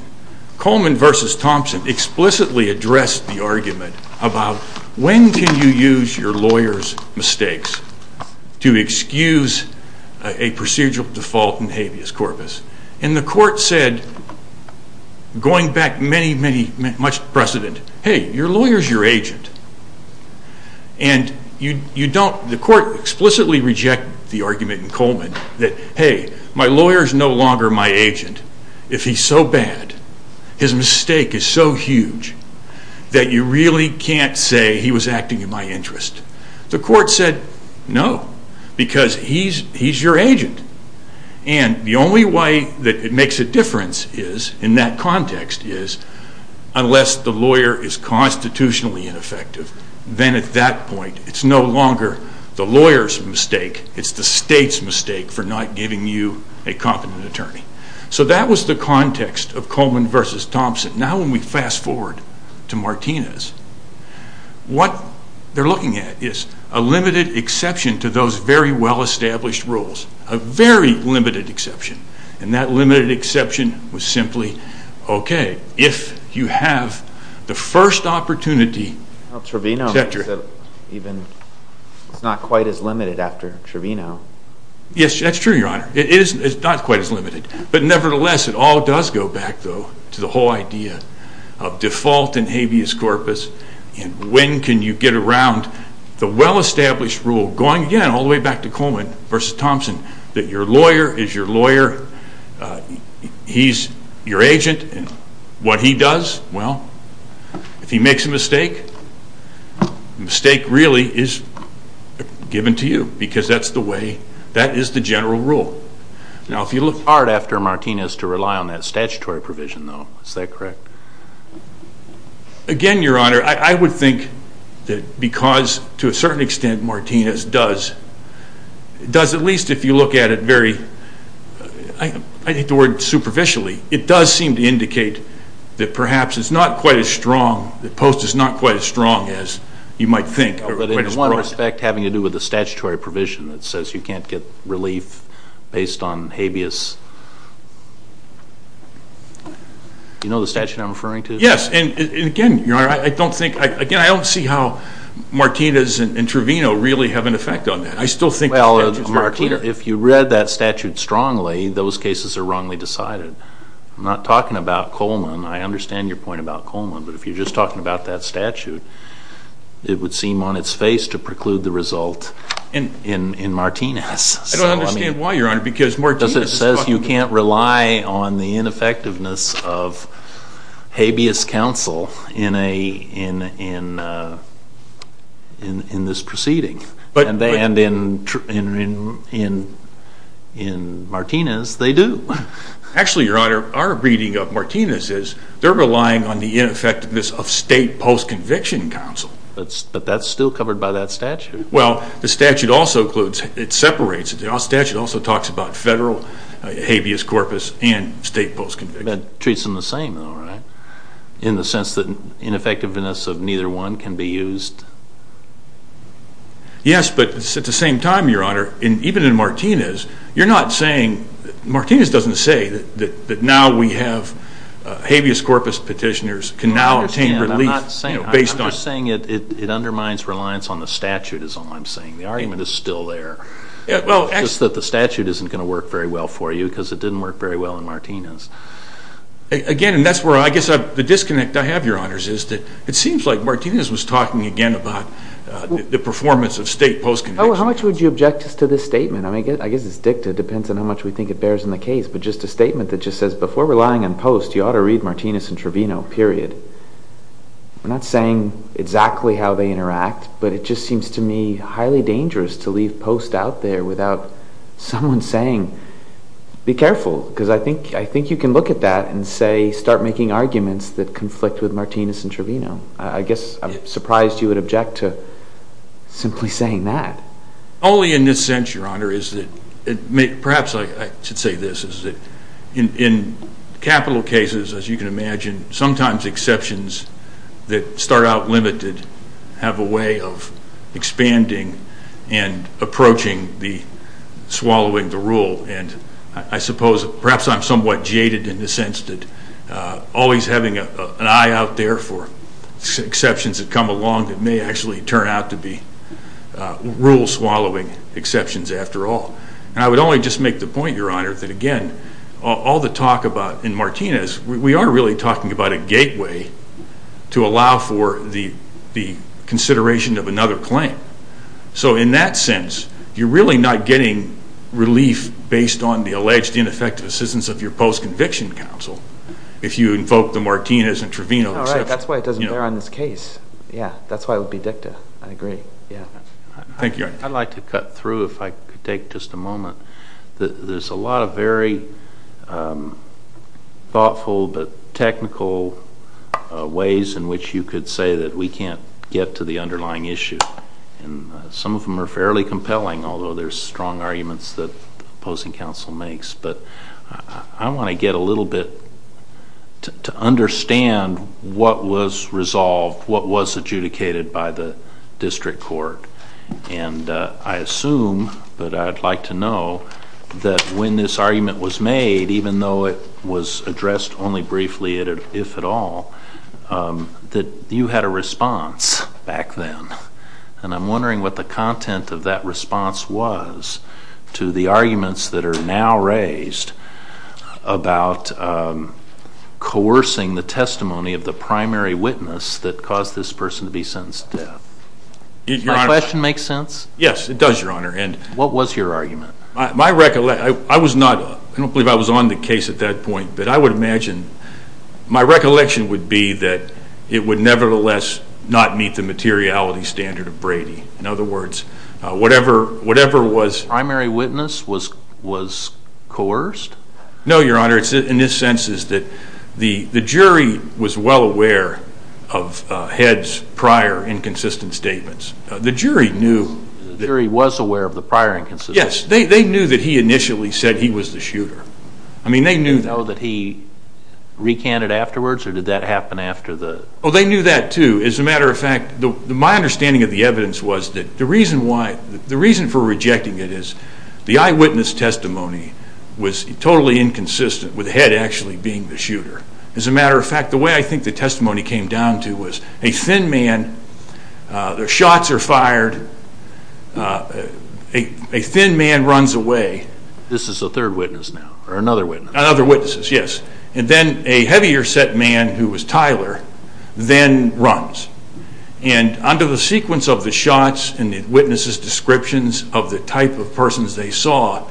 Coleman v. Thompson explicitly addressed the argument about when can you use your lawyer's mistakes to excuse a procedural default in habeas corpus. And the court said, going back many, many, much precedent, hey, your lawyer's your agent, and the court explicitly rejected the argument in Coleman that, hey, my lawyer's no longer my agent if he's so bad, his mistake is so huge, that you really can't say he was acting in my interest. The court said, no, because he's your agent, and the only way that it makes a difference in that context is, unless the lawyer is constitutionally ineffective, then at that point it's no longer the lawyer's mistake, it's the state's mistake for not giving you a competent attorney. So that was the context of Coleman v. Thompson. Now when we fast forward to Martinez, what they're looking at is a limited exception to those very well-established rules, a very limited exception, and that limited exception was simply, okay, if you have the first opportunity, etc. Now Trevino said it's not quite as limited after Trevino. Yes, that's true, Your Honor. It's not quite as limited, but nevertheless it all does go back, though, to the whole idea of default in habeas corpus, and when can you get around the well-established rule, going again all the way back to Coleman v. Thompson, that your lawyer is your lawyer, he's your agent, and what he does, well, if he makes a mistake, the mistake really is given to you because that is the general rule. Now if you look hard after Martinez to rely on that statutory provision, though, is that correct? Again, Your Honor, I would think that because to a certain extent Martinez does, at least if you look at it very, I hate the word superficially, it does seem to indicate that perhaps it's not quite as strong, the post is not quite as strong as you might think. But in one respect having to do with the statutory provision that says you can't get relief based on habeas. Do you know the statute I'm referring to? Yes, and again, Your Honor, I don't think, again, I don't see how Martinez and Trevino really have an effect on that. I still think the statute is very clear. Well, if you read that statute strongly, those cases are wrongly decided. I'm not talking about Coleman. I understand your point about Coleman, but if you're just talking about that statute, it would seem on its face to preclude the result in Martinez. I don't understand why, Your Honor, because Martinez is talking about it. In this proceeding, and in Martinez they do. Actually, Your Honor, our reading of Martinez is they're relying on the ineffectiveness of state post-conviction counsel. But that's still covered by that statute. Well, the statute also includes, it separates, the statute also talks about federal habeas corpus and state post-conviction. That treats them the same though, right? In the sense that ineffectiveness of neither one can be used? Yes, but at the same time, Your Honor, even in Martinez, you're not saying, Martinez doesn't say that now we have habeas corpus petitioners can now obtain relief based on. I'm just saying it undermines reliance on the statute is all I'm saying. The argument is still there. Just that the statute isn't going to work very well for you because it didn't work very well in Martinez. Again, and that's where I guess the disconnect I have, Your Honors, is that it seems like Martinez was talking again about the performance of state post-conviction. How much would you object to this statement? I mean, I guess it's dicta. It depends on how much we think it bears in the case. But just a statement that just says, before relying on post, you ought to read Martinez and Trevino, period. I'm not saying exactly how they interact, but it just seems to me highly dangerous to leave post out there without someone saying, be careful, because I think you can look at that and say, start making arguments that conflict with Martinez and Trevino. I guess I'm surprised you would object to simply saying that. Only in this sense, Your Honor, is that perhaps I should say this, is that in capital cases, as you can imagine, sometimes exceptions that start out limited have a way of expanding and approaching the swallowing the rule. And I suppose perhaps I'm somewhat jaded in the sense that always having an eye out there for exceptions that come along that may actually turn out to be rule-swallowing exceptions after all. And I would only just make the point, Your Honor, that again, all the talk about in Martinez, we are really talking about a gateway to allow for the consideration of another claim. So in that sense, you're really not getting relief based on the alleged ineffective assistance of your post-conviction counsel if you invoke the Martinez and Trevino exception. All right, that's why it doesn't bear on this case. Yeah, that's why it would be dicta. I agree. Thank you, Your Honor. I'd like to cut through if I could take just a moment. There's a lot of very thoughtful but technical ways in which you could say that we can't get to the underlying issue. And some of them are fairly compelling, although there's strong arguments that opposing counsel makes. But I want to get a little bit to understand what was resolved, what was adjudicated by the district court. And I assume that I'd like to know that when this argument was made, even though it was addressed only briefly, if at all, that you had a response back then. And I'm wondering what the content of that response was to the arguments that are now raised about coercing the testimony of the primary witness that caused this person to be sentenced to death. Does my question make sense? Yes, it does, Your Honor. What was your argument? I don't believe I was on the case at that point, but I would imagine my recollection would be that it would nevertheless not meet the materiality standard of Brady. In other words, whatever was... The primary witness was coerced? No, Your Honor. In this sense is that the jury was well aware of Head's prior inconsistent statements. The jury knew... The jury was aware of the prior inconsistencies. Yes, they knew that he initially said he was the shooter. I mean, they knew that. Did they know that he recanted afterwards, or did that happen after the... Oh, they knew that, too. As a matter of fact, my understanding of the evidence was that the reason for rejecting it is the eyewitness testimony was totally inconsistent with Head actually being the shooter. As a matter of fact, the way I think the testimony came down to was a thin man... The shots are fired. A thin man runs away. This is a third witness now, or another witness. Another witness, yes. And then a heavier set man, who was Tyler, then runs. And under the sequence of the shots and the witnesses' descriptions of the type of persons they saw,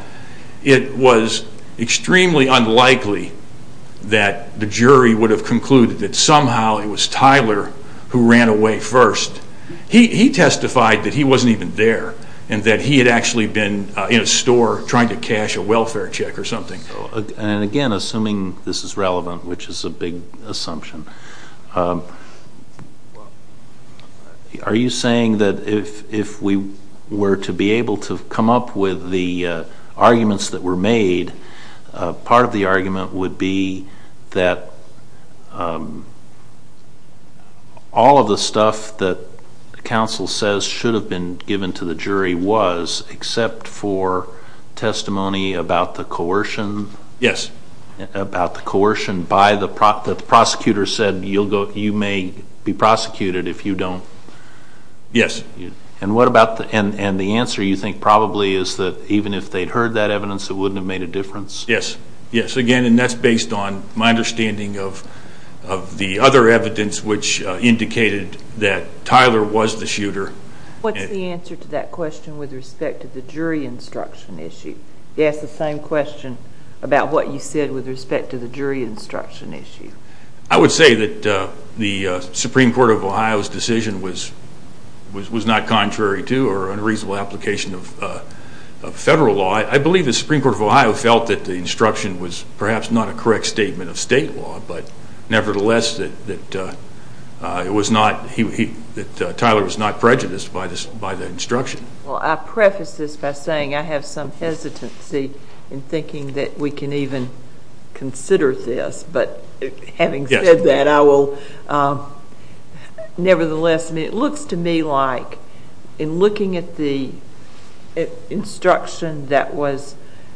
it was extremely unlikely that the jury would have concluded that somehow it was Tyler who ran away first. He testified that he wasn't even there and that he had actually been in a store trying to cash a welfare check or something. And again, assuming this is relevant, which is a big assumption, are you saying that if we were to be able to come up with the arguments that were made, part of the argument would be that all of the stuff that counsel says should have been given to the jury was, except for testimony about the coercion? Yes. About the coercion that the prosecutor said, you may be prosecuted if you don't... Yes. And the answer, you think, probably is that even if they'd heard that evidence, it wouldn't have made a difference? Yes. Yes, again, and that's based on my understanding of the other evidence which indicated that Tyler was the shooter. What's the answer to that question with respect to the jury instruction issue? You asked the same question about what you said with respect to the jury instruction issue. I would say that the Supreme Court of Ohio's decision was not contrary to or unreasonable application of federal law. I believe the Supreme Court of Ohio felt that the instruction was perhaps not a correct statement of state law, but nevertheless that Tyler was not prejudiced by the instruction. Well, I preface this by saying I have some hesitancy in thinking that we can even consider this, but having said that, I will nevertheless. It looks to me like in looking at the instruction that was,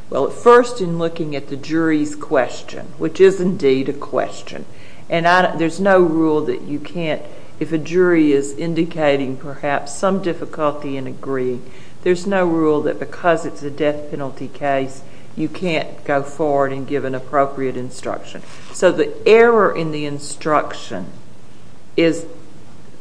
well, first in looking at the jury's question, which is indeed a question, and there's no rule that you can't, if a jury is indicating perhaps some difficulty in agreeing, there's no rule that because it's a death penalty case, you can't go forward and give an appropriate instruction. So the error in the instruction is,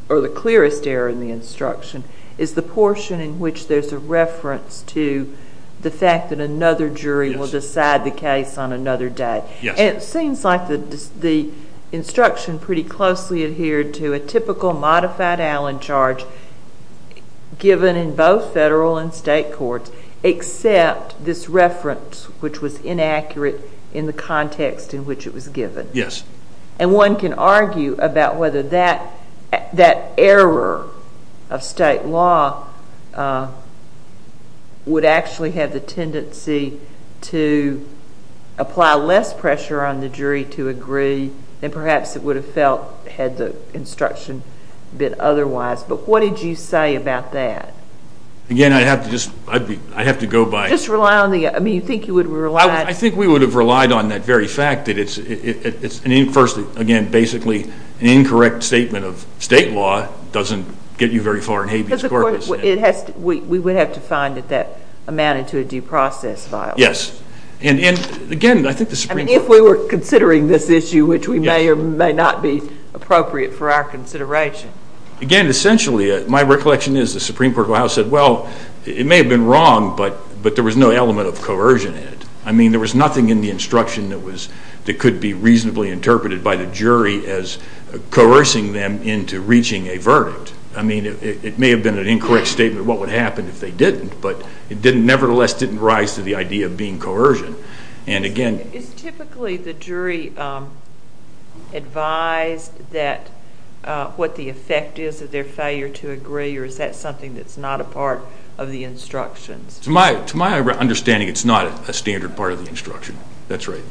or the clearest error in the instruction, is the portion in which there's a reference to the fact that another jury will decide the case on another day. And it seems like the instruction pretty closely adhered to a typical modified Allen charge given in both federal and state courts, except this reference, which was inaccurate in the context in which it was given. Yes. And one can argue about whether that error of state law would actually have the tendency to apply less pressure on the jury to agree than perhaps it would have felt had the instruction been otherwise. But what did you say about that? Again, I'd have to just, I'd have to go by. Just rely on the, I mean, you think you would have relied. I think we would have relied on that very fact that it's, first, again, basically an incorrect statement of state law doesn't get you very far in Habeas Corpus. Because, of course, we would have to find that that amounted to a due process violation. Yes. And, again, I think the Supreme Court. I mean, if we were considering this issue, which we may or may not be appropriate for our consideration. And, again, essentially, my recollection is the Supreme Court of the House said, well, it may have been wrong, but there was no element of coercion in it. I mean, there was nothing in the instruction that could be reasonably interpreted by the jury as coercing them into reaching a verdict. I mean, it may have been an incorrect statement of what would happen if they didn't, but it nevertheless didn't rise to the idea of being coercion. Is typically the jury advised that what the effect is of their failure to agree, or is that something that's not a part of the instructions? To my understanding, it's not a standard part of the instruction. That's right.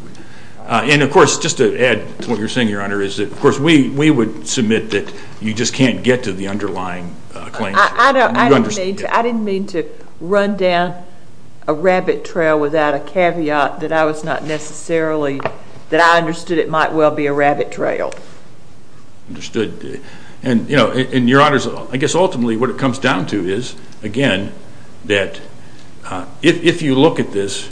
And, of course, just to add to what you're saying, Your Honor, is that, of course, we would submit that you just can't get to the underlying claims. I didn't mean to run down a rabbit trail without a caveat that I was not necessarily that I understood it might well be a rabbit trail. Understood. And, Your Honors, I guess ultimately what it comes down to is, again, that if you look at this,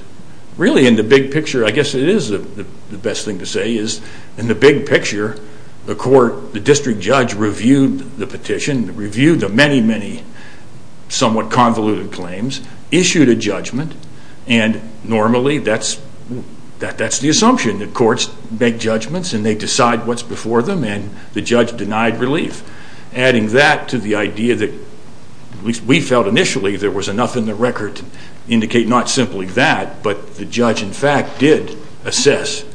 really in the big picture, I guess it is the best thing to say, is in the big picture, the court, the district judge, reviewed the petition, reviewed the many, many somewhat convoluted claims, issued a judgment, and normally that's the assumption. The courts make judgments and they decide what's before them and the judge denied relief. Adding that to the idea that, at least we felt initially, there was enough in the record to indicate not simply that, but the judge, in fact, did assess,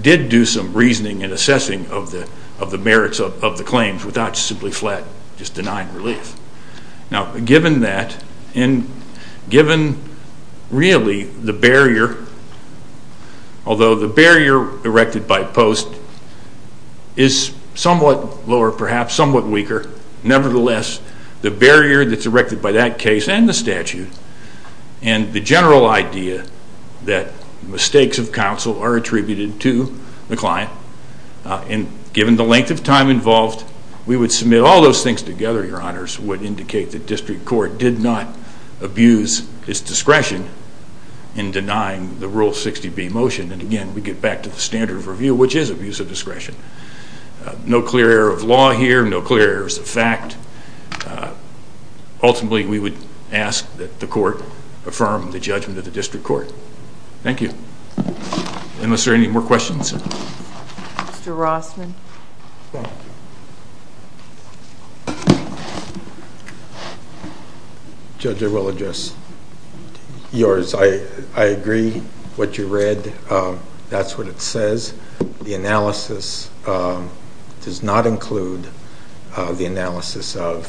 did do some reasoning and assessing of the merits of the claims without simply flat, just denying relief. Now, given that, and given, really, the barrier, although the barrier erected by post is somewhat lower, perhaps, somewhat weaker, nevertheless, the barrier that's erected by that case and the statute and the general idea that mistakes of counsel are attributed to the client, and given the length of time involved, we would submit all those things together, Your Honors, would indicate that district court did not abuse its discretion in denying the Rule 60B motion. And, again, we get back to the standard of review, which is abuse of discretion. No clear error of law here, no clear errors of fact. Ultimately, we would ask that the court affirm the judgment of the district court. Thank you. Unless there are any more questions. Mr. Rossman. Judge, I will address yours. I agree what you read. That's what it says. The analysis does not include the analysis of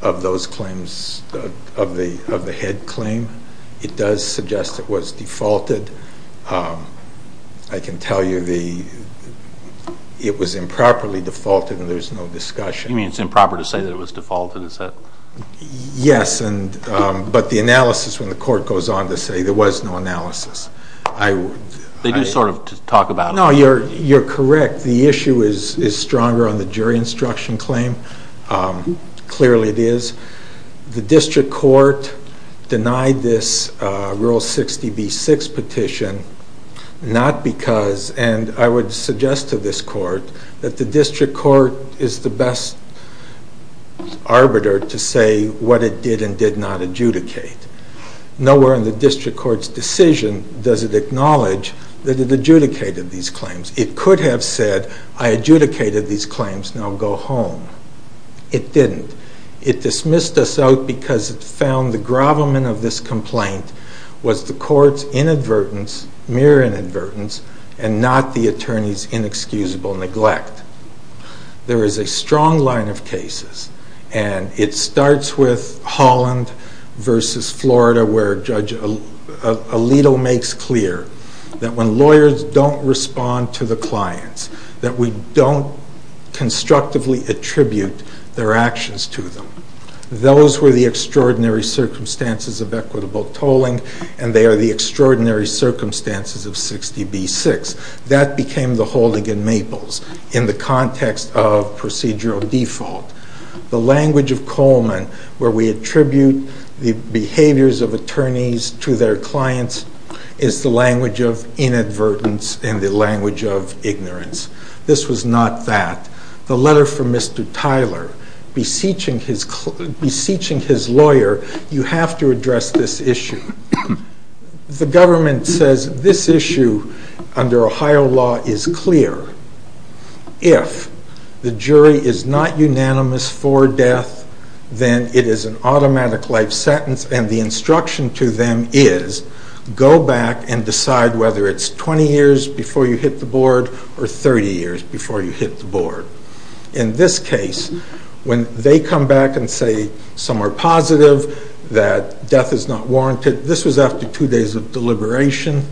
those claims, of the head claim. It does suggest it was defaulted. I can tell you it was improperly defaulted and there's no discussion. You mean it's improper to say that it was defaulted, is that? Yes, but the analysis, when the court goes on to say there was no analysis. They do sort of talk about it. No, you're correct. The issue is stronger on the jury instruction claim. Clearly it is. The district court denied this Rule 60B-6 petition not because, and I would suggest to this court, that the district court is the best arbiter to say what it did and did not adjudicate. Nowhere in the district court's decision does it acknowledge that it adjudicated these claims. It could have said, I adjudicated these claims, now go home. It didn't. It dismissed us out because it found the grovelment of this complaint was the court's inadvertence, mere inadvertence, and not the attorney's inexcusable neglect. There is a strong line of cases, and it starts with Holland v. Florida, where Judge Alito makes clear that when lawyers don't respond to the clients, that we don't constructively attribute their actions to them. Those were the extraordinary circumstances of equitable tolling, and they are the extraordinary circumstances of 60B-6. That became the holding in Maples in the context of procedural default. The language of Coleman, where we attribute the behaviors of attorneys to their clients, is the language of inadvertence and the language of ignorance. This was not that. The letter from Mr. Tyler beseeching his lawyer, you have to address this issue. The government says this issue under Ohio law is clear. If the jury is not unanimous for death, then it is an automatic life sentence, and the instruction to them is go back and decide whether it's 20 years before you hit the board or 30 years before you hit the board. In this case, when they come back and say some are positive, that death is not warranted, this was after two days of deliberation,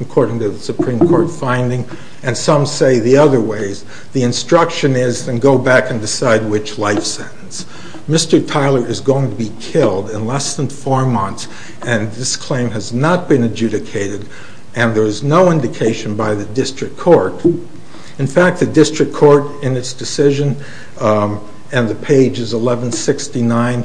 according to the Supreme Court finding, and some say the other ways, the instruction is then go back and decide which life sentence. Mr. Tyler is going to be killed in less than four months, and this claim has not been adjudicated, and there is no indication by the district court. In fact, the district court in its decision, and the page is 1169,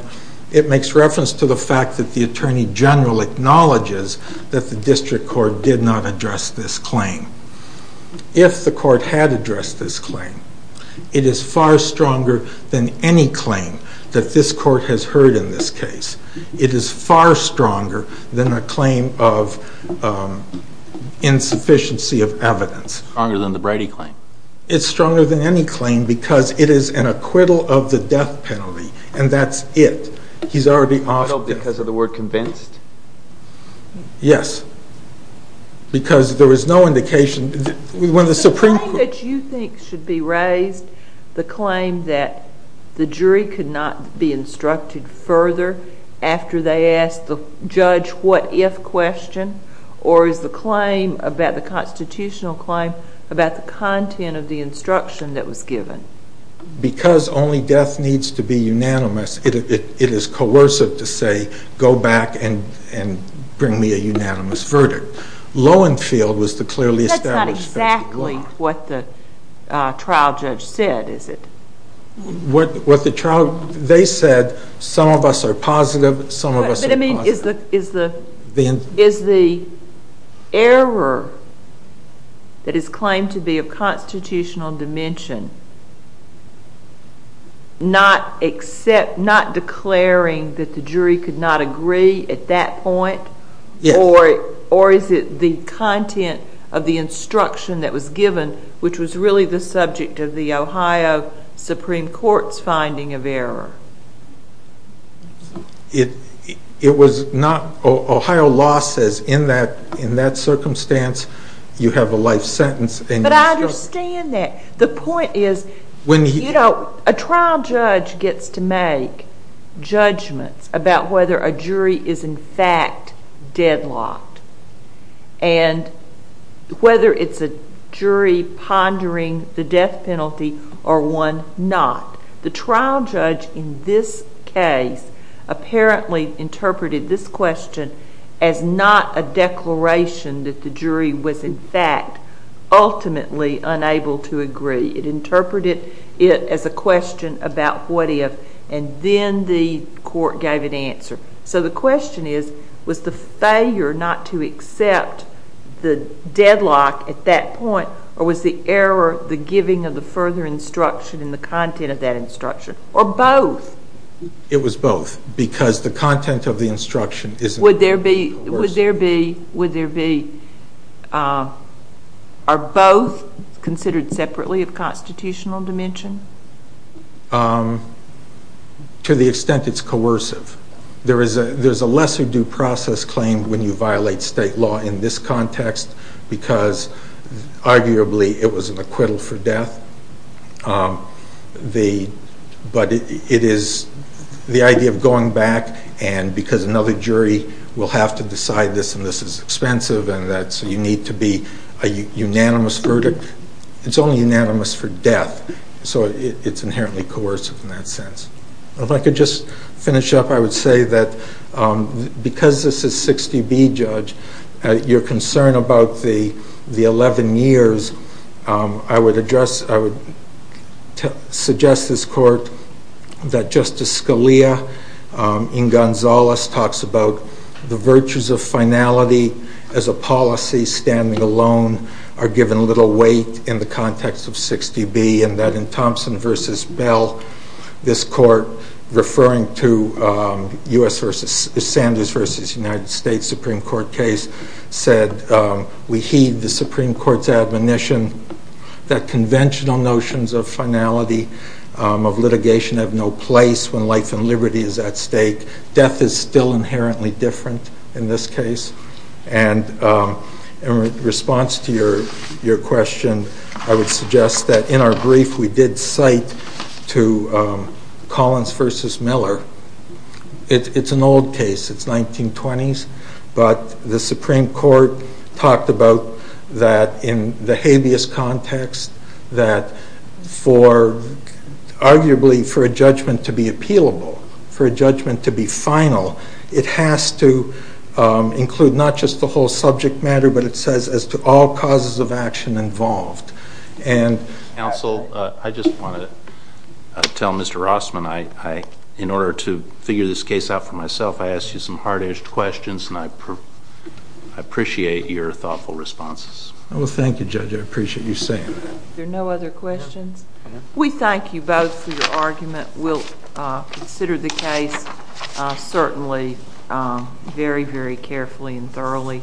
it makes reference to the fact that the attorney general acknowledges that the district court did not address this claim. If the court had addressed this claim, it is far stronger than any claim that this court has heard in this case. It is far stronger than a claim of insufficiency of evidence. It's stronger than the Brady claim. It's stronger than any claim because it is an acquittal of the death penalty, and that's it. He's already offered it. Because of the word convinced? Yes, because there was no indication. The claim that you think should be raised, the claim that the jury could not be instructed further after they asked the judge what if question, or is the constitutional claim about the content of the instruction that was given? Because only death needs to be unanimous, it is coercive to say go back and bring me a unanimous verdict. Lowenfield was the clearly established. That's not exactly what the trial judge said, is it? They said some of us are positive, some of us are positive. Is the error that is claimed to be of constitutional dimension not declaring that the jury could not agree at that point? Yes. Or is it the content of the instruction that was given, which was really the subject of the Ohio Supreme Court's finding of error? It was not. Ohio law says in that circumstance you have a life sentence. But I understand that. The point is a trial judge gets to make judgments about whether a jury is in fact deadlocked and whether it's a jury pondering the death penalty or one not. The trial judge in this case apparently interpreted this question as not a declaration that the jury was in fact ultimately unable to agree. It interpreted it as a question about what if, and then the court gave an answer. So the question is, was the failure not to accept the deadlock at that point or was the error the giving of the further instruction and the content of that instruction, or both? It was both, because the content of the instruction is coercive. Would there be, are both considered separately of constitutional dimension? To the extent it's coercive. There is a lesser due process claim when you violate state law in this context because arguably it was an acquittal for death. But it is the idea of going back and because another jury will have to decide this and this is expensive and so you need to be a unanimous verdict. It's only unanimous for death. So it's inherently coercive in that sense. If I could just finish up, I would say that because this is 60B, Judge, your concern about the 11 years, I would address, I would suggest this court that Justice Scalia in Gonzales talks about the virtues of finality as a policy. Standing alone are given little weight in the context of 60B and that in Thompson versus Bell, this court referring to the U.S. versus, Sanders versus United States Supreme Court case said we heed the Supreme Court's admonition that conventional notions of finality, of litigation have no place when life and liberty is at stake. Death is still inherently different in this case. And in response to your question, I would suggest that in our brief, we did cite to Collins versus Miller. It's an old case. It's 1920s. But the Supreme Court talked about that in the habeas context that arguably for a judgment to be appealable, for a judgment to be final, it has to include not just the whole subject matter but it says as to all causes of action involved. Counsel, I just want to tell Mr. Rossman, in order to figure this case out for myself, I asked you some hard-edged questions and I appreciate your thoughtful responses. Well, thank you, Judge. I appreciate you saying that. Are there no other questions? We thank you both for your argument. We'll consider the case certainly very, very carefully and thoroughly.